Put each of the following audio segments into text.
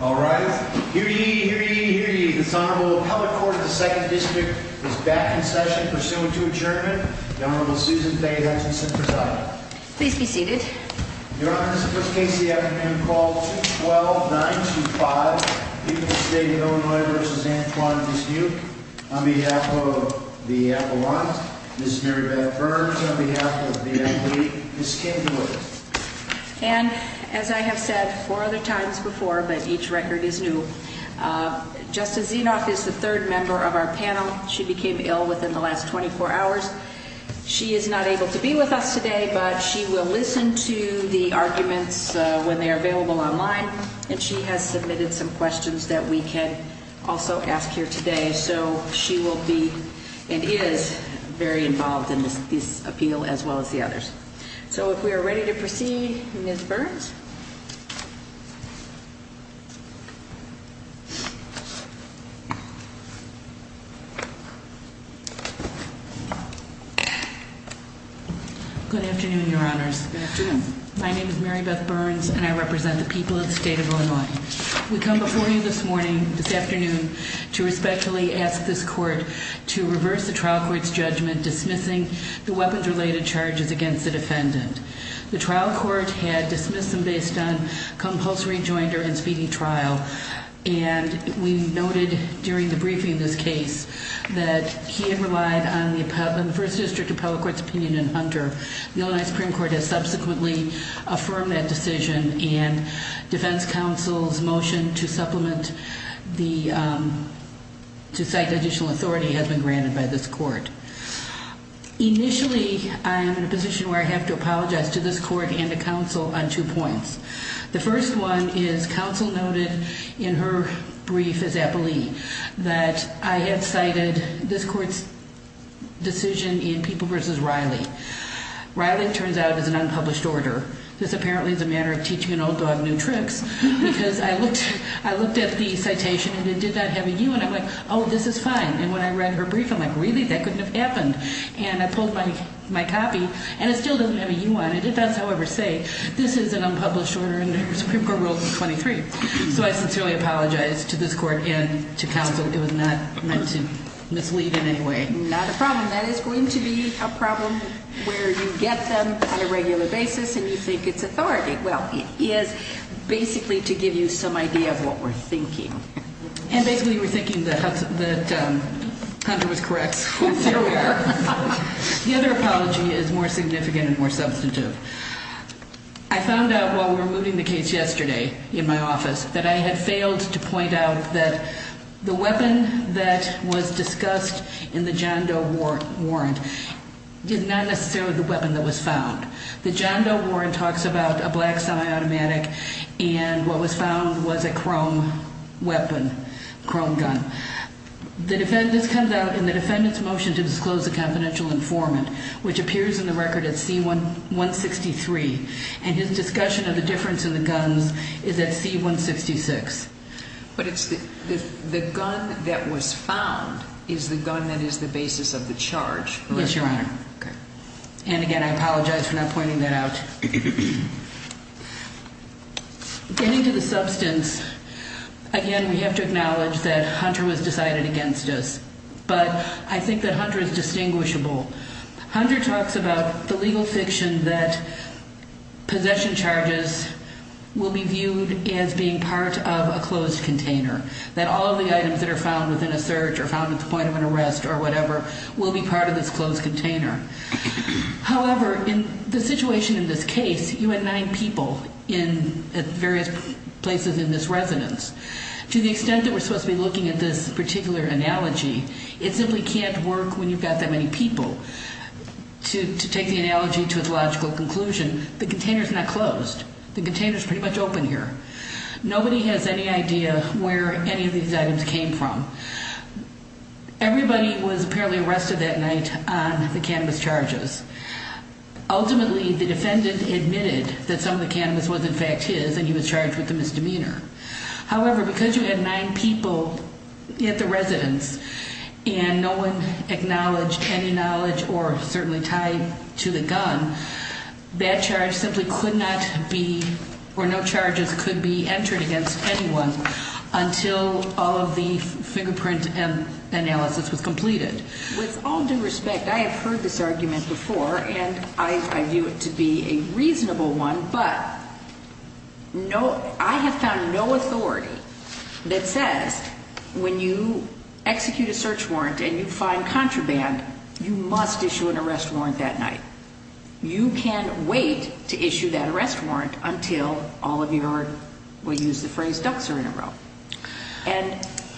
All right, here ye, here ye, here ye. This Honorable Appellate Court of the 2nd District is back in session pursuant to adjournment. Governor Susan Faye Hutchinson presiding. Please be seated. Your Honor, this is the first case of the afternoon. Call 212-925. Dismuke v. Illinois v. Antoine Dismuke. On behalf of the Avalanche, Mrs. Mary Beth Burns. On behalf of the athlete, Mrs. Kim Dewitt. And as I have said four other times before, but each record is new, Justice Zinoff is the third member of our panel. She became ill within the last 24 hours. She is not able to be with us today, but she will listen to the arguments when they are available online. And she has submitted some questions that we can also ask here today. So she will be and is very involved in this appeal as well as the others. So if we are ready to proceed, Ms. Burns. Good afternoon, Your Honors. Good afternoon. My name is Mary Beth Burns and I represent the people of the state of Illinois. We come before you this morning, this afternoon, to respectfully ask this court to reverse the trial court's judgment dismissing the weapons-related charges against the defendant. The trial court had dismissed them based on compulsory rejoinder and speeding trial. And we noted during the briefing of this case that he had relied on the first district appellate court's opinion in Hunter. The Illinois Supreme Court has subsequently affirmed that decision and defense counsel's motion to supplement the, to cite additional authority has been granted by this court. Initially, I am in a position where I have to apologize to this court and the counsel on two points. The first one is counsel noted in her brief as appellee that I had cited this court's decision in People v. Riley. Riley turns out is an unpublished order. This apparently is a matter of teaching an old dog new tricks because I looked at the citation and it did not have a U. And I'm like, oh, this is fine. And when I read her brief, I'm like, really? That couldn't have happened. And I pulled my copy and it still doesn't have a U on it. It does, however, say this is an unpublished order under Supreme Court Rule 23. So I sincerely apologize to this court and to counsel. Not a problem. That is going to be a problem where you get them on a regular basis and you think it's authority. Well, it is basically to give you some idea of what we're thinking. And basically you were thinking that Hunter was correct. The other apology is more significant and more substantive. I found out while we were moving the case yesterday in my office that I had failed to point out that the weapon that was discussed in the John Doe warrant is not necessarily the weapon that was found. The John Doe warrant talks about a black semi-automatic and what was found was a chrome weapon, chrome gun. This comes out in the defendant's motion to disclose a confidential informant, which appears in the record as C-163. And his discussion of the difference in the guns is at C-166. But the gun that was found is the gun that is the basis of the charge. Yes, Your Honor. And again, I apologize for not pointing that out. Getting to the substance, again, we have to acknowledge that Hunter was decided against us. But I think that Hunter is distinguishable. Hunter talks about the legal fiction that possession charges will be viewed as being part of a closed container, that all of the items that are found within a search or found at the point of an arrest or whatever will be part of this closed container. However, in the situation in this case, you had nine people in various places in this residence. To the extent that we're supposed to be looking at this particular analogy, it simply can't work when you've got that many people. To take the analogy to its logical conclusion, the container is not closed. The container is pretty much open here. Nobody has any idea where any of these items came from. Everybody was apparently arrested that night on the cannabis charges. Ultimately, the defendant admitted that some of the cannabis was, in fact, his, and he was charged with a misdemeanor. However, because you had nine people at the residence and no one acknowledged any knowledge or certainly tied to the gun, that charge simply could not be or no charges could be entered against anyone until all of the fingerprint analysis was completed. With all due respect, I have heard this argument before, and I view it to be a reasonable one. But I have found no authority that says when you execute a search warrant and you find contraband, you must issue an arrest warrant that night. You can wait to issue that arrest warrant until all of your, we'll use the phrase, ducks are in a row.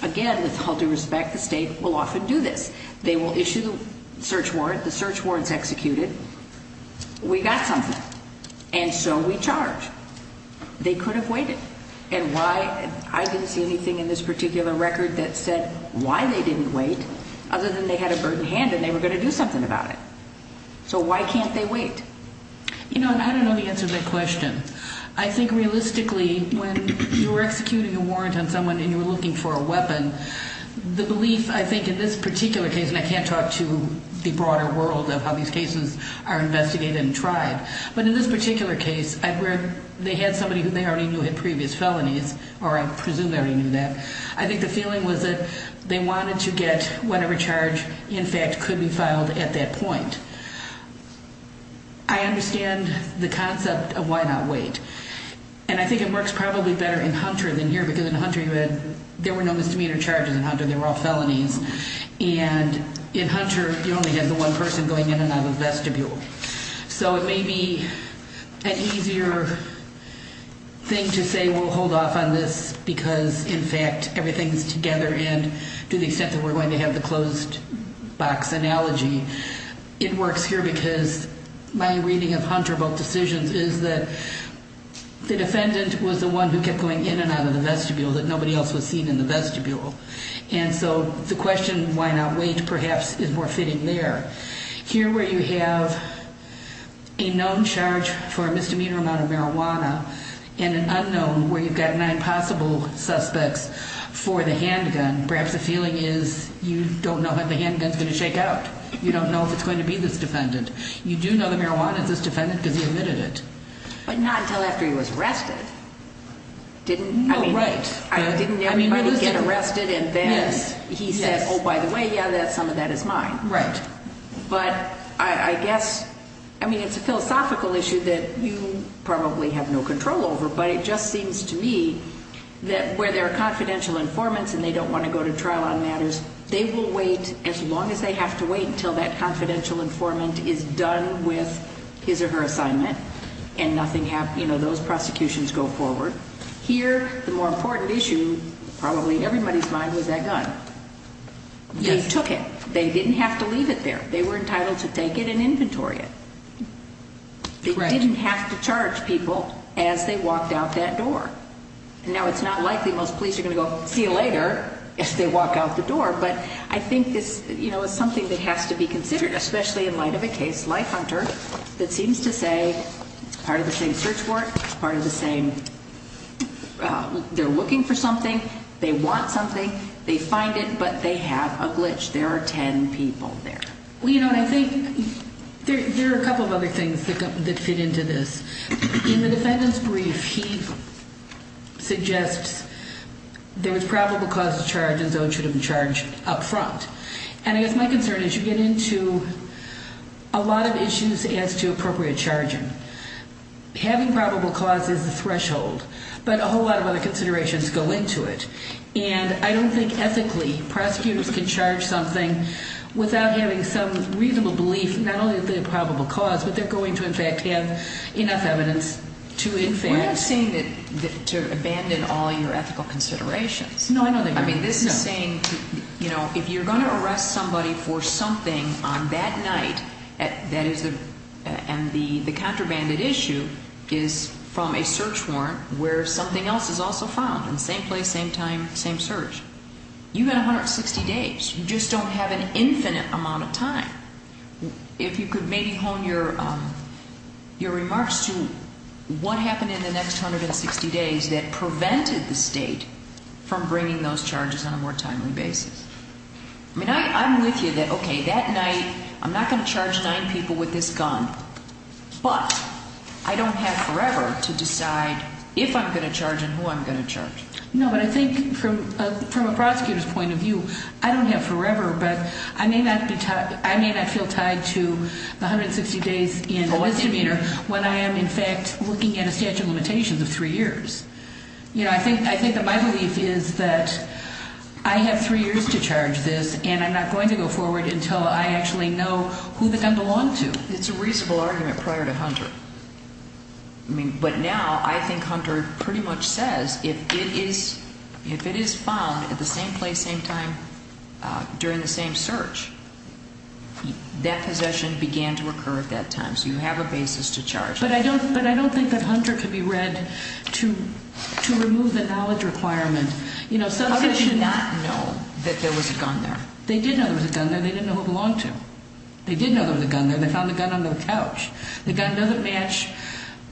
Again, with all due respect, the state will often do this. They will issue the search warrant. The search warrant is executed. We got something. And so we charge. They could have waited. And why? I didn't see anything in this particular record that said why they didn't wait, other than they had a burden handed and they were going to do something about it. So why can't they wait? You know, and I don't know the answer to that question. I think realistically, when you're executing a warrant on someone and you're looking for a weapon, the belief, I think, in this particular case, and I can't talk to the broader world of how these cases are investigated and tried, but in this particular case, where they had somebody who they already knew had previous felonies, or I presume they already knew that, I think the feeling was that they wanted to get whatever charge, in fact, could be filed at that point. I understand the concept of why not wait. And I think it works probably better in Hunter than here, because in Hunter, there were no misdemeanor charges in Hunter. They were all felonies. And in Hunter, you only had the one person going in and out of the vestibule. So it may be an easier thing to say we'll hold off on this because, in fact, everything's together, and to the extent that we're going to have the closed-box analogy, it works here, because my reading of Hunter about decisions is that the defendant was the one who kept going in and out of the vestibule, that nobody else was seen in the vestibule. And so the question why not wait, perhaps, is more fitting there. Here, where you have a known charge for a misdemeanor amount of marijuana and an unknown where you've got nine possible suspects for the handgun, perhaps the feeling is you don't know how the handgun's going to shake out. You don't know if it's going to be this defendant. You do know the marijuana is this defendant because he omitted it. But not until after he was arrested. No, right. Didn't everybody get arrested and then he said, oh, by the way, yeah, some of that is mine. Right. But I guess, I mean, it's a philosophical issue that you probably have no control over, but it just seems to me that where there are confidential informants and they don't want to go to trial on matters, they will wait as long as they have to wait until that confidential informant is done with his or her assignment and nothing happens, you know, those prosecutions go forward. Here, the more important issue probably in everybody's mind was that gun. Yes. They took it. They didn't have to leave it there. They were entitled to take it and inventory it. Correct. They didn't have to charge people as they walked out that door. Now, it's not likely most police are going to go see you later if they walk out the door, but I think this, you know, is something that has to be considered, especially in light of a case, Life Hunter, that seems to say part of the same search warrant, part of the same, they're looking for something, they want something, they find it, but they have a glitch. There are 10 people there. Well, you know, and I think there are a couple of other things that fit into this. In the defendant's brief, he suggests there was probable cause to charge and so it should have been charged up front. And I guess my concern is you get into a lot of issues as to appropriate charging. Having probable cause is the threshold, but a whole lot of other considerations go into it, and I don't think ethically prosecutors can charge something without having some reasonable belief, not only that they have probable cause, but they're going to, in fact, have enough evidence to, in fact. We're not saying to abandon all your ethical considerations. I mean, this is saying, you know, if you're going to arrest somebody for something on that night, and the contrabanded issue is from a search warrant where something else is also found, in the same place, same time, same search, you've got 160 days. You just don't have an infinite amount of time. If you could maybe hone your remarks to what happened in the next 160 days that prevented the state from bringing those charges on a more timely basis. I mean, I'm with you that, okay, that night I'm not going to charge nine people with this gun, but I don't have forever to decide if I'm going to charge and who I'm going to charge. No, but I think from a prosecutor's point of view, I don't have forever, but I may not feel tied to the 160 days in the misdemeanor when I am, in fact, looking at a statute of limitations of three years. You know, I think that my belief is that I have three years to charge this, and I'm not going to go forward until I actually know who the gun belonged to. It's a reasonable argument prior to Hunter. I mean, but now I think Hunter pretty much says if it is found at the same place, same time, during the same search, that possession began to occur at that time. So you have a basis to charge. But I don't think that Hunter could be read to remove the knowledge requirement. How could they not know that there was a gun there? They did know there was a gun there. They didn't know who it belonged to. They did know there was a gun there. They found the gun under the couch. The gun doesn't match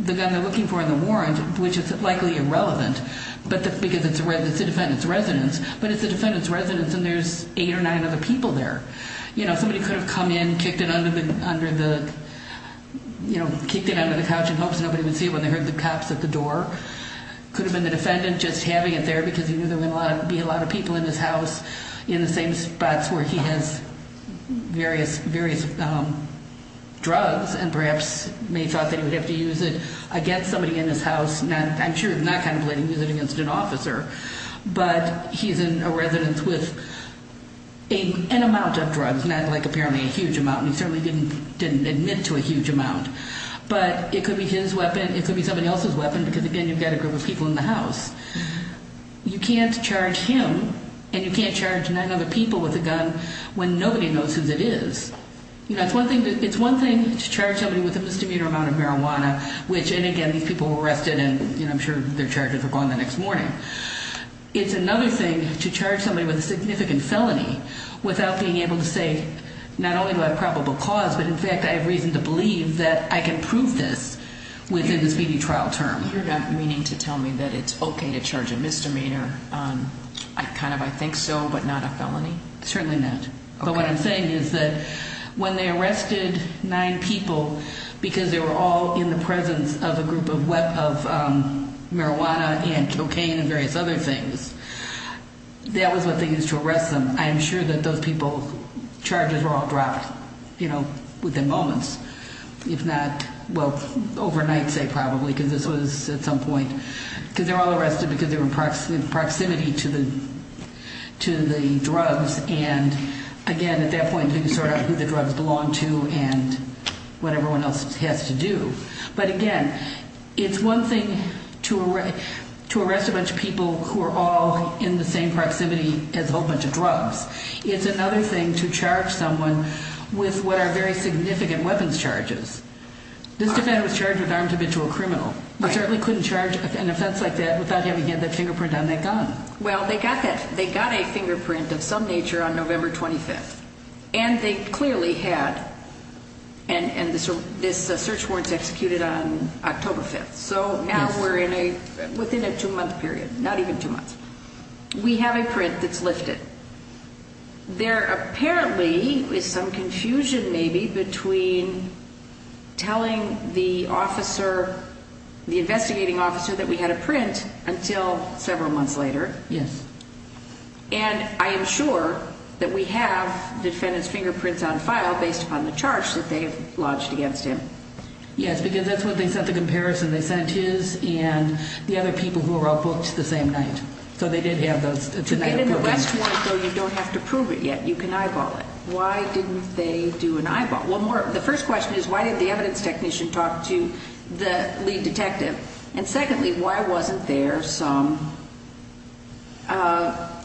the gun they're looking for in the warrant, which is likely irrelevant, because it's the defendant's residence. But it's the defendant's residence, and there's eight or nine other people there. Somebody could have come in, kicked it under the couch in hopes nobody would see it when they heard the cops at the door. Could have been the defendant just having it there because he knew there would be a lot of people in his house in the same spots where he has various drugs and perhaps may have thought that he would have to use it against somebody in his house. I'm sure he's not contemplating using it against an officer. But he's in a residence with an amount of drugs, not like apparently a huge amount. He certainly didn't admit to a huge amount. But it could be his weapon. It could be somebody else's weapon because, again, you've got a group of people in the house. You can't charge him and you can't charge nine other people with a gun when nobody knows whose it is. It's one thing to charge somebody with a misdemeanor amount of marijuana, which, and again, these people were arrested and I'm sure their charges are going the next morning. It's another thing to charge somebody with a significant felony without being able to say, not only do I have probable cause, but in fact I have reason to believe that I can prove this within the speedy trial term. You're not meaning to tell me that it's okay to charge a misdemeanor, kind of I think so, but not a felony? Certainly not. But what I'm saying is that when they arrested nine people because they were all in the presence of a group of marijuana and cocaine and various other things, that was what they used to arrest them. I'm sure that those people, charges were all dropped within moments, if not, well, overnight, say, probably, because this was at some point, because they were all arrested because they were in proximity to the drugs and again, at that point, they can sort out who the drugs belong to and what everyone else has to do. But again, it's one thing to arrest a bunch of people who are all in the same proximity as a whole bunch of drugs. It's another thing to charge someone with what are very significant weapons charges. This defendant was charged with armed habitual criminal. You certainly couldn't charge an offense like that without having had that fingerprint on that gun. Well, they got a fingerprint of some nature on November 25th, and they clearly had, and this search warrant is executed on October 5th. So now we're within a two-month period, not even two months. We have a print that's lifted. There apparently is some confusion maybe between telling the officer, the investigating officer that we had a print until several months later. Yes. And I am sure that we have defendant's fingerprints on file based upon the charge that they've lodged against him. Yes, because that's what they sent the comparison. They sent his and the other people who were outbooked the same night. To get an arrest warrant, though, you don't have to prove it yet. You can eyeball it. Why didn't they do an eyeball? Well, the first question is, why didn't the evidence technician talk to the lead detective? And secondly, why wasn't there some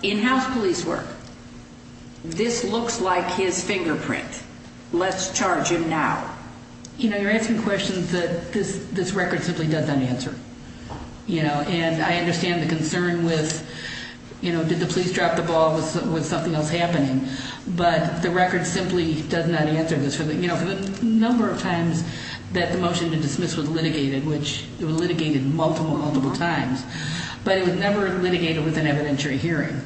in-house police work? This looks like his fingerprint. Let's charge him now. You know, you're asking questions that this record simply doesn't answer. And I understand the concern with, did the police drop the ball? Was something else happening? But the record simply does not answer this. The number of times that the motion to dismiss was litigated, which it was litigated multiple, multiple times, but it was never litigated with an evidentiary hearing.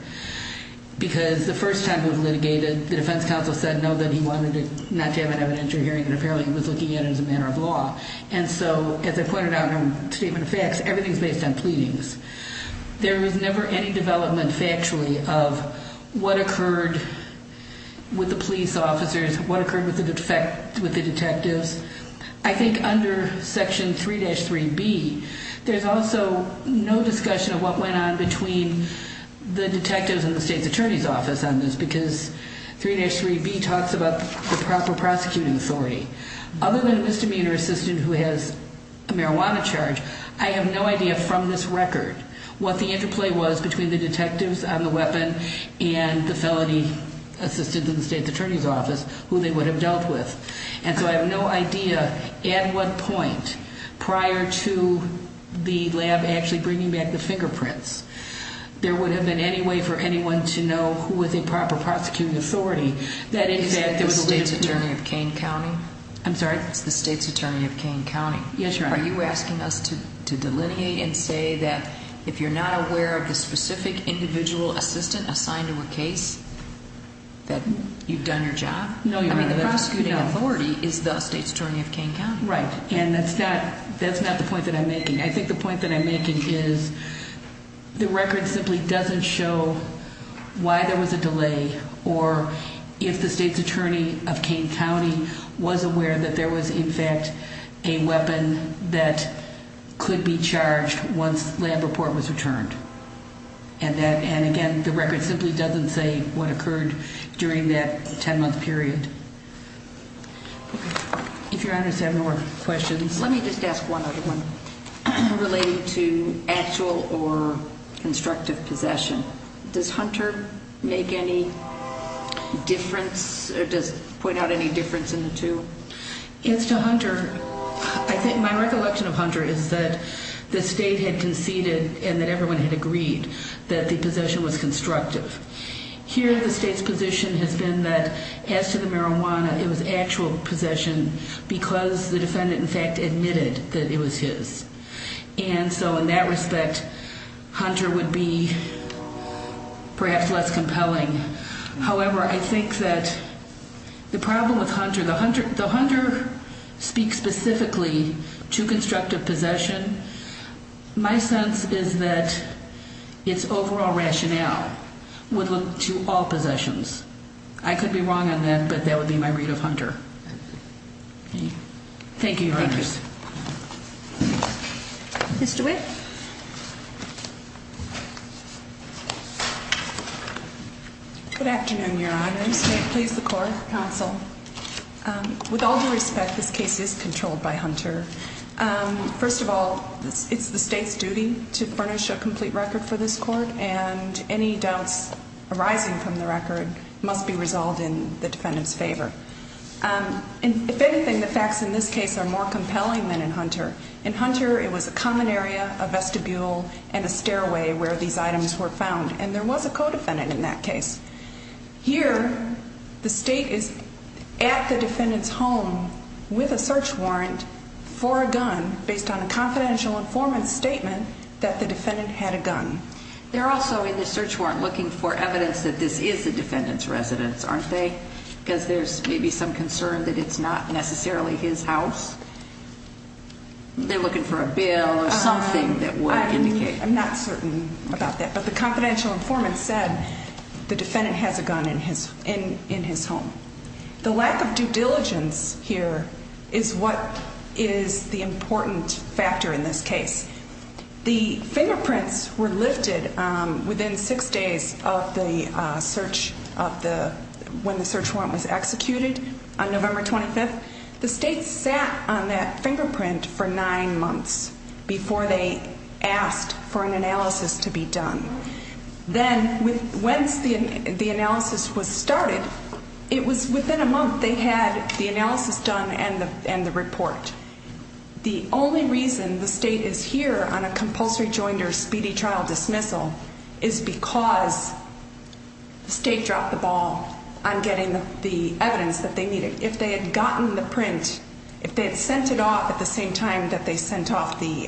Because the first time it was litigated, the defense counsel said no, that he wanted not to have an evidentiary hearing, and apparently he was looking at it as a matter of law. And so, as I pointed out in my statement of facts, everything is based on pleadings. There was never any development factually of what occurred with the police officers, what occurred with the detectives. I think under Section 3-3B, there's also no discussion of what went on between the detectives and the state's attorney's office on this, because 3-3B talks about the proper prosecuting authority. Other than a misdemeanor assistant who has a marijuana charge, I have no idea from this record what the interplay was between the detectives on the weapon and the felony assistant in the state's attorney's office, who they would have dealt with. And so I have no idea at what point, prior to the lab actually bringing back the fingerprints, there would have been any way for anyone to know who was a proper prosecuting authority. Is that the state's attorney of Kane County? I'm sorry? It's the state's attorney of Kane County. Yes, Your Honor. Are you asking us to delineate and say that if you're not aware of the specific individual assistant assigned to a case, that you've done your job? No, Your Honor. I mean, the prosecuting authority is the state's attorney of Kane County. Right, and that's not the point that I'm making. I think the point that I'm making is the record simply doesn't show why there was a delay or if the state's attorney of Kane County was aware that there was, in fact, a weapon that could be charged once lab report was returned. And again, the record simply doesn't say what occurred during that 10-month period. If Your Honor has any more questions. Let me just ask one other one relating to actual or constructive possession. Does Hunter make any difference or point out any difference in the two? As to Hunter, I think my recollection of Hunter is that the state had conceded and that everyone had agreed that the possession was constructive. Here, the state's position has been that as to the marijuana, it was actual possession because the defendant, in fact, admitted that it was his. And so in that respect, Hunter would be perhaps less compelling. However, I think that the problem with Hunter, the Hunter speaks specifically to constructive possession. My sense is that its overall rationale would look to all possessions. I could be wrong on that, but that would be my read of Hunter. Thank you, Your Honors. Thank you. Ms. DeWitt. Good afternoon, Your Honors. May it please the Court. Counsel. With all due respect, this case is controlled by Hunter. First of all, it's the state's duty to furnish a complete record for this Court, and any doubts arising from the record must be resolved in the defendant's favor. If anything, the facts in this case are more compelling than in Hunter. In Hunter, it was a common area, a vestibule, and a stairway where these items were found, and there was a co-defendant in that case. Here, the state is at the defendant's home with a search warrant for a gun based on a confidential informant's statement that the defendant had a gun. They're also in the search warrant looking for evidence that this is the defendant's residence, aren't they? Because there's maybe some concern that it's not necessarily his house? They're looking for a bill or something that would indicate. I'm not certain about that, but the confidential informant said the defendant has a gun in his home. The lack of due diligence here is what is the important factor in this case. The fingerprints were lifted within six days of the search of the, when the search warrant was executed on November 25th. The state sat on that fingerprint for nine months before they asked for an analysis to be done. Then, once the analysis was started, it was within a month they had the analysis done and the report. The only reason the state is here on a compulsory joinder speedy trial dismissal is because the state dropped the ball on getting the evidence that they needed. If they had gotten the print, if they had sent it off at the same time that they sent off the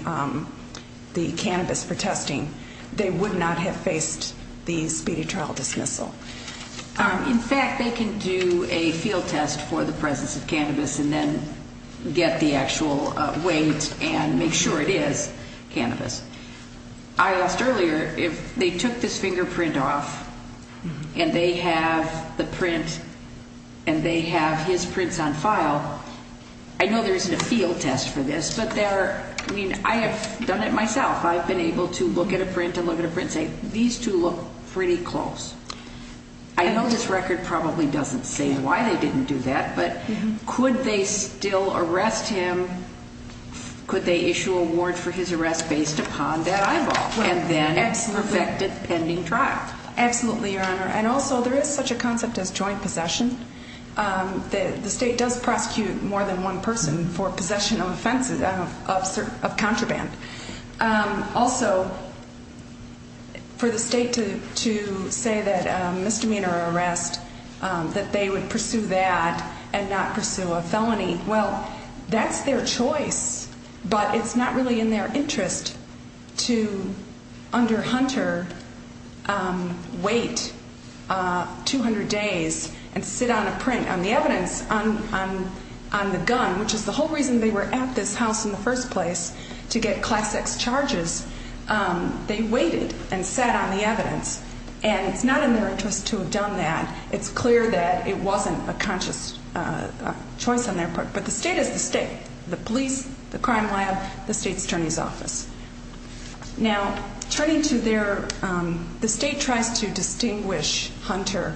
cannabis for testing, they would not have faced the speedy trial dismissal. In fact, they can do a field test for the presence of cannabis and then get the actual weight and make sure it is cannabis. I asked earlier if they took this fingerprint off and they have the print and they have his prints on file. I know there isn't a field test for this, but I have done it myself. I've been able to look at a print and look at a print and say, these two look pretty close. I know this record probably doesn't say why they didn't do that, but could they still arrest him? Could they issue a warrant for his arrest based upon that eyeball and then perfect a pending trial? Absolutely, Your Honor. Also, there is such a concept as joint possession. The state does prosecute more than one person for possession of offenses of contraband. Also, for the state to say that a misdemeanor arrest, that they would pursue that and not pursue a felony, well, that's their choice. But it's not really in their interest to, under Hunter, wait 200 days and sit on a print on the evidence on the gun, which is the whole reason they were at this house in the first place, to get Class X charges. They waited and sat on the evidence. And it's not in their interest to have done that. It's clear that it wasn't a conscious choice on their part. But the state is the state. Now, turning to their, the state tries to distinguish Hunter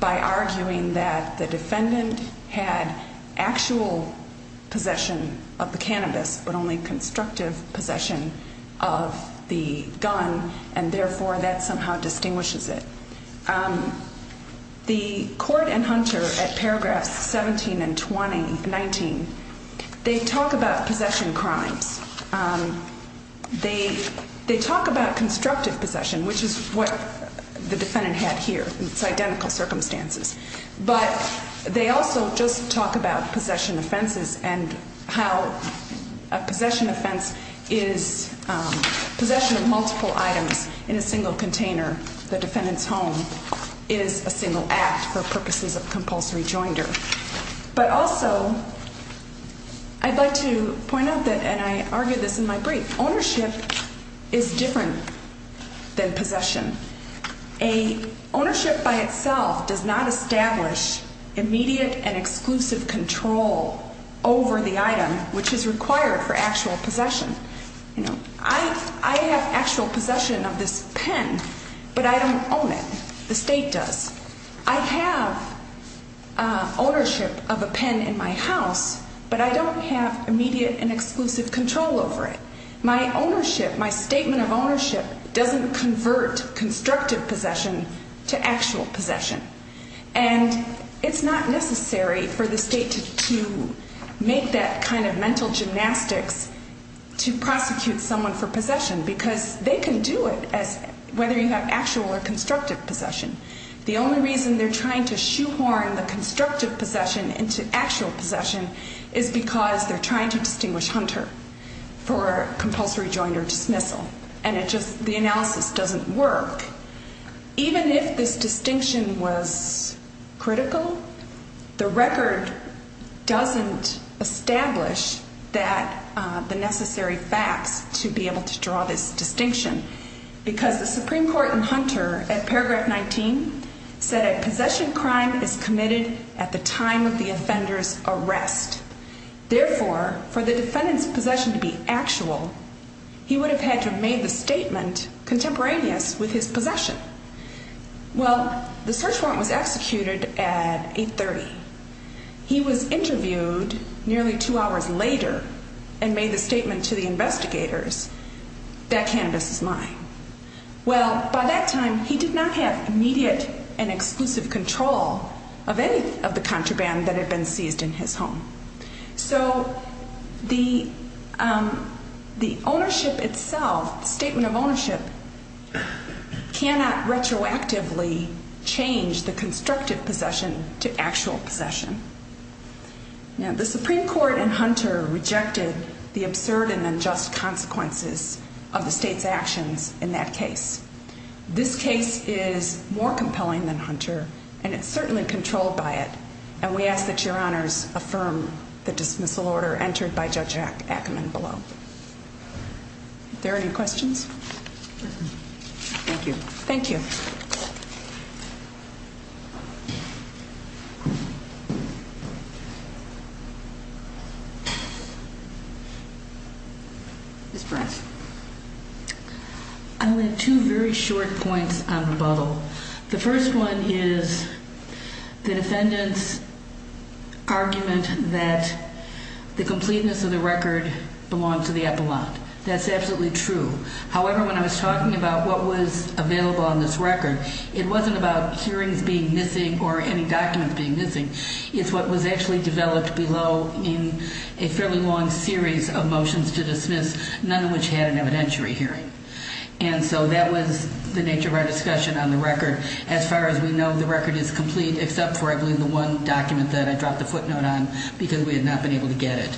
by arguing that the defendant had actual possession of the cannabis, but only constructive possession of the gun, and therefore that somehow distinguishes it. The court and Hunter, at paragraphs 17 and 19, they talk about possession crimes. They talk about constructive possession, which is what the defendant had here. It's identical circumstances. But they also just talk about possession offenses and how a possession offense is possession of multiple items in a single container. The defendant's home is a single act for purposes of compulsory joinder. But also, I'd like to point out that, and I argued this in my brief, ownership is different than possession. Ownership by itself does not establish immediate and exclusive control over the item, which is required for actual possession. I have actual possession of this pen, but I don't own it. The state does. I have ownership of a pen in my house, but I don't have immediate and exclusive control over it. My ownership, my statement of ownership doesn't convert constructive possession to actual possession. And it's not necessary for the state to make that kind of mental gymnastics to prosecute someone for possession, because they can do it as whether you have actual or constructive possession. The only reason they're trying to shoehorn the constructive possession into actual possession is because they're trying to distinguish Hunter. For compulsory joinder dismissal. And it just, the analysis doesn't work. Even if this distinction was critical, the record doesn't establish that, the necessary facts to be able to draw this distinction. Because the Supreme Court in Hunter, at paragraph 19, said a possession crime is committed at the time of the offender's arrest. Therefore, for the defendant's possession to be actual, he would have had to have made the statement contemporaneous with his possession. Well, the search warrant was executed at 830. He was interviewed nearly two hours later and made the statement to the investigators that cannabis is mine. Well, by that time, he did not have immediate and exclusive control of any of the contraband that had been seized in his home. So the ownership itself, the statement of ownership, cannot retroactively change the constructive possession to actual possession. Now, the Supreme Court in Hunter rejected the absurd and unjust consequences of the state's actions in that case. This case is more compelling than Hunter, and it's certainly controlled by it. And we ask that Your Honors affirm the dismissal order entered by Judge Ackerman below. Are there any questions? Thank you. Thank you. Ms. Price. I have two very short points on rebuttal. The first one is the defendant's argument that the completeness of the record belongs to the epilogue. That's absolutely true. However, when I was talking about what was available on this record, it wasn't about hearings being missing or any documents being missing. It's what was actually developed below in a fairly long series of motions to dismiss, none of which had an evidentiary hearing. And so that was the nature of our discussion on the record. As far as we know, the record is complete except for, I believe, the one document that I dropped the footnote on because we had not been able to get it.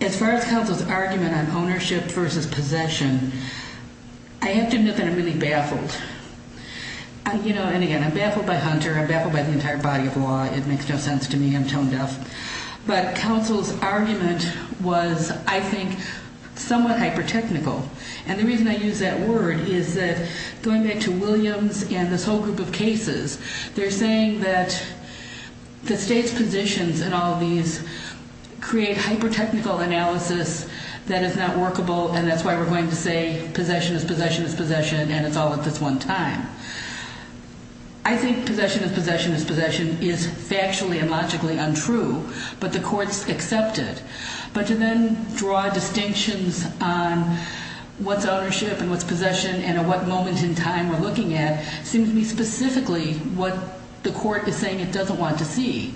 As far as counsel's argument on ownership versus possession, I have to admit that I'm really baffled. And, again, I'm baffled by Hunter. I'm baffled by the entire body of law. It makes no sense to me. I'm tone deaf. But counsel's argument was, I think, somewhat hyper-technical. And the reason I use that word is that going back to Williams and this whole group of cases, they're saying that the state's positions in all of these create hyper-technical analysis that is not workable. And that's why we're going to say possession is possession is possession, and it's all at this one time. I think possession is possession is possession is factually and logically untrue, but the court's accepted. But to then draw distinctions on what's ownership and what's possession and at what moment in time we're looking at seems to be specifically what the court is saying it doesn't want to see.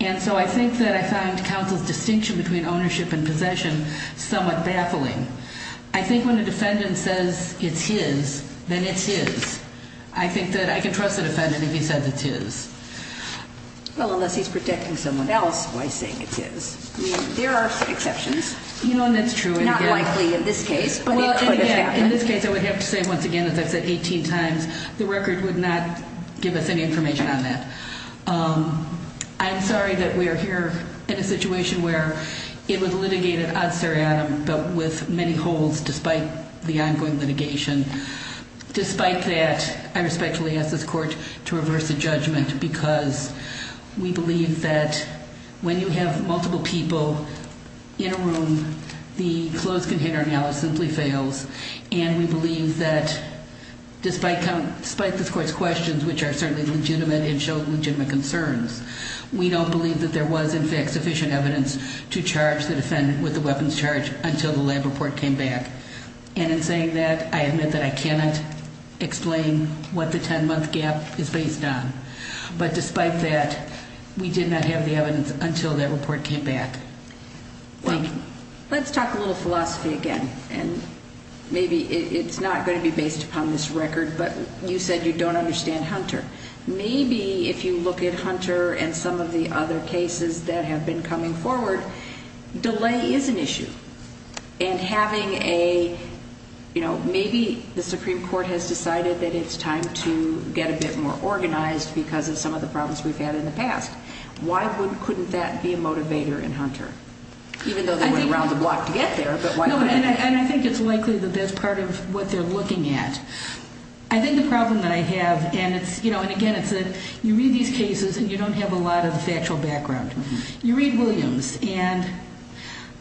And so I think that I found counsel's distinction between ownership and possession somewhat baffling. I think when a defendant says it's his, then it's his. I think that I can trust the defendant if he says it's his. Well, unless he's protecting someone else by saying it's his. I mean, there are exceptions. You know, and that's true. Not likely in this case, but it could have happened. In this case, I would have to say once again, as I've said 18 times, the record would not give us any information on that. I'm sorry that we are here in a situation where it was litigated ad seriatim, but with many holes despite the ongoing litigation. Despite that, I respectfully ask this court to reverse the judgment because we believe that when you have multiple people in a room, the closed container analysis simply fails. And we believe that despite this court's questions, which are certainly legitimate and show legitimate concerns, we don't believe that there was, in fact, sufficient evidence to charge the defendant with a weapons charge until the lab report came back. And in saying that, I admit that I cannot explain what the 10-month gap is based on. But despite that, we did not have the evidence until that report came back. Thank you. Let's talk a little philosophy again. And maybe it's not going to be based upon this record, but you said you don't understand Hunter. Maybe if you look at Hunter and some of the other cases that have been coming forward, delay is an issue. And having a, you know, maybe the Supreme Court has decided that it's time to get a bit more organized because of some of the problems we've had in the past. Why couldn't that be a motivator in Hunter? Even though they went around the block to get there, but why couldn't it? And I think it's likely that that's part of what they're looking at. I think the problem that I have, and it's, you know, and again, it's that you read these cases and you don't have a lot of factual background. You read Williams, and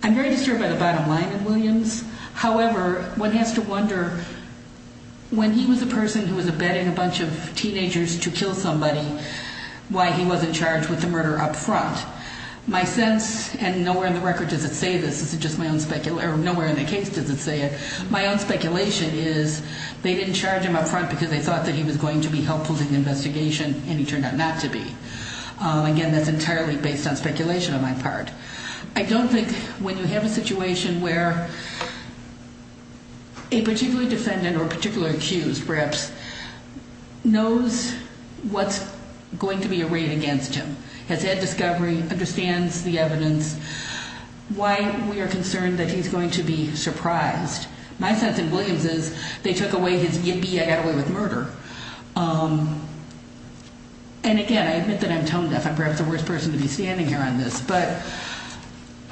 I'm very disturbed by the bottom line of Williams. However, one has to wonder when he was a person who was abetting a bunch of teenagers to kill somebody, why he wasn't charged with the murder up front. My sense, and nowhere in the record does it say this, this is just my own speculation, or nowhere in the case does it say it. My own speculation is they didn't charge him up front because they thought that he was going to be helpful in the investigation, and he turned out not to be. Again, that's entirely based on speculation on my part. I don't think when you have a situation where a particular defendant or a particular accused perhaps knows what's going to be arrayed against him, has had discovery, understands the evidence, why we are concerned that he's going to be surprised. My sense in Williams is they took away his, yippee, I got away with murder. And again, I admit that I'm tone deaf. I'm perhaps the worst person to be standing here on this. But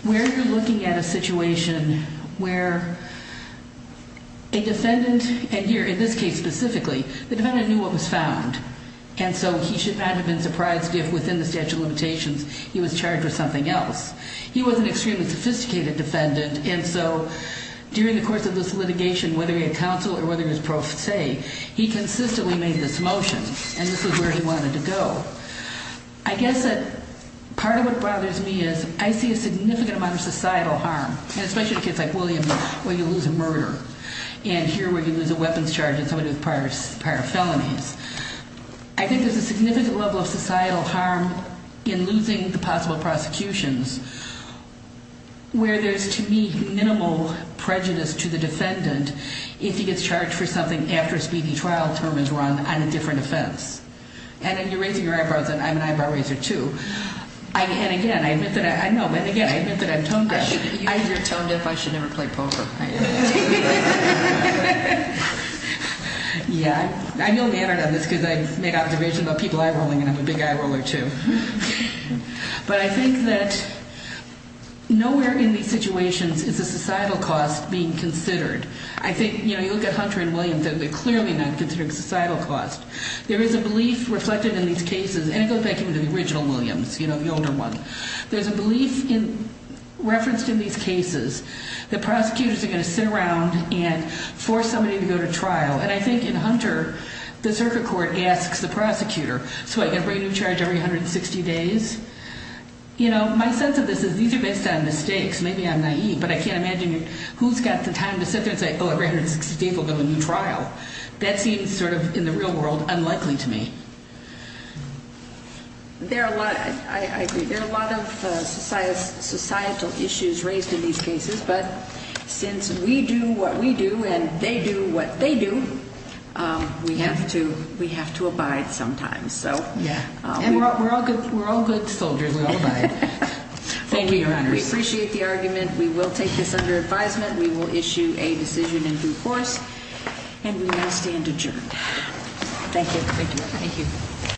where you're looking at a situation where a defendant, and here in this case specifically, the defendant knew what was found, and so he should not have been surprised if within the statute of limitations he was charged with something else. He was an extremely sophisticated defendant, and so during the course of this litigation, whether he had counsel or whether he was pro se, he consistently made this motion, and this is where he wanted to go. I guess that part of what bothers me is I see a significant amount of societal harm, and especially in a case like Williams where you lose a murder, and here where you lose a weapons charge in somebody with prior felonies. I think there's a significant level of societal harm in losing the possible prosecutions, where there's to me minimal prejudice to the defendant if he gets charged for something after a speedy trial term is run on a different offense. And then you're raising your eyebrows, and I'm an eyebrow raiser, too. And again, I admit that I'm tone deaf. You're tone deaf. I should never play poker. I am. Yeah. I know the answer to this because I've made observations about people eye rolling, and I'm a big eye roller, too. But I think that nowhere in these situations is the societal cost being considered. I think, you know, you look at Hunter and Williams, they're clearly not considering societal cost. There is a belief reflected in these cases, and it goes back even to the original Williams, you know, the older one. There's a belief referenced in these cases that prosecutors are going to sit around and force somebody to go to trial, and I think in Hunter, the circuit court asks the prosecutor, so I get a brand-new charge every 160 days. You know, my sense of this is these are based on mistakes. Maybe I'm naive, but I can't imagine who's got the time to sit there and say, oh, every 160 days we'll go to a new trial. That seems sort of, in the real world, unlikely to me. I agree. There are a lot of societal issues raised in these cases, but since we do what we do and they do what they do, we have to abide sometimes. Yeah. And we're all good soldiers. We all abide. Thank you, Your Honors. We appreciate the argument. We will take this under advisement. We will issue a decision in due course, and we will stand adjourned. Thank you. Thank you.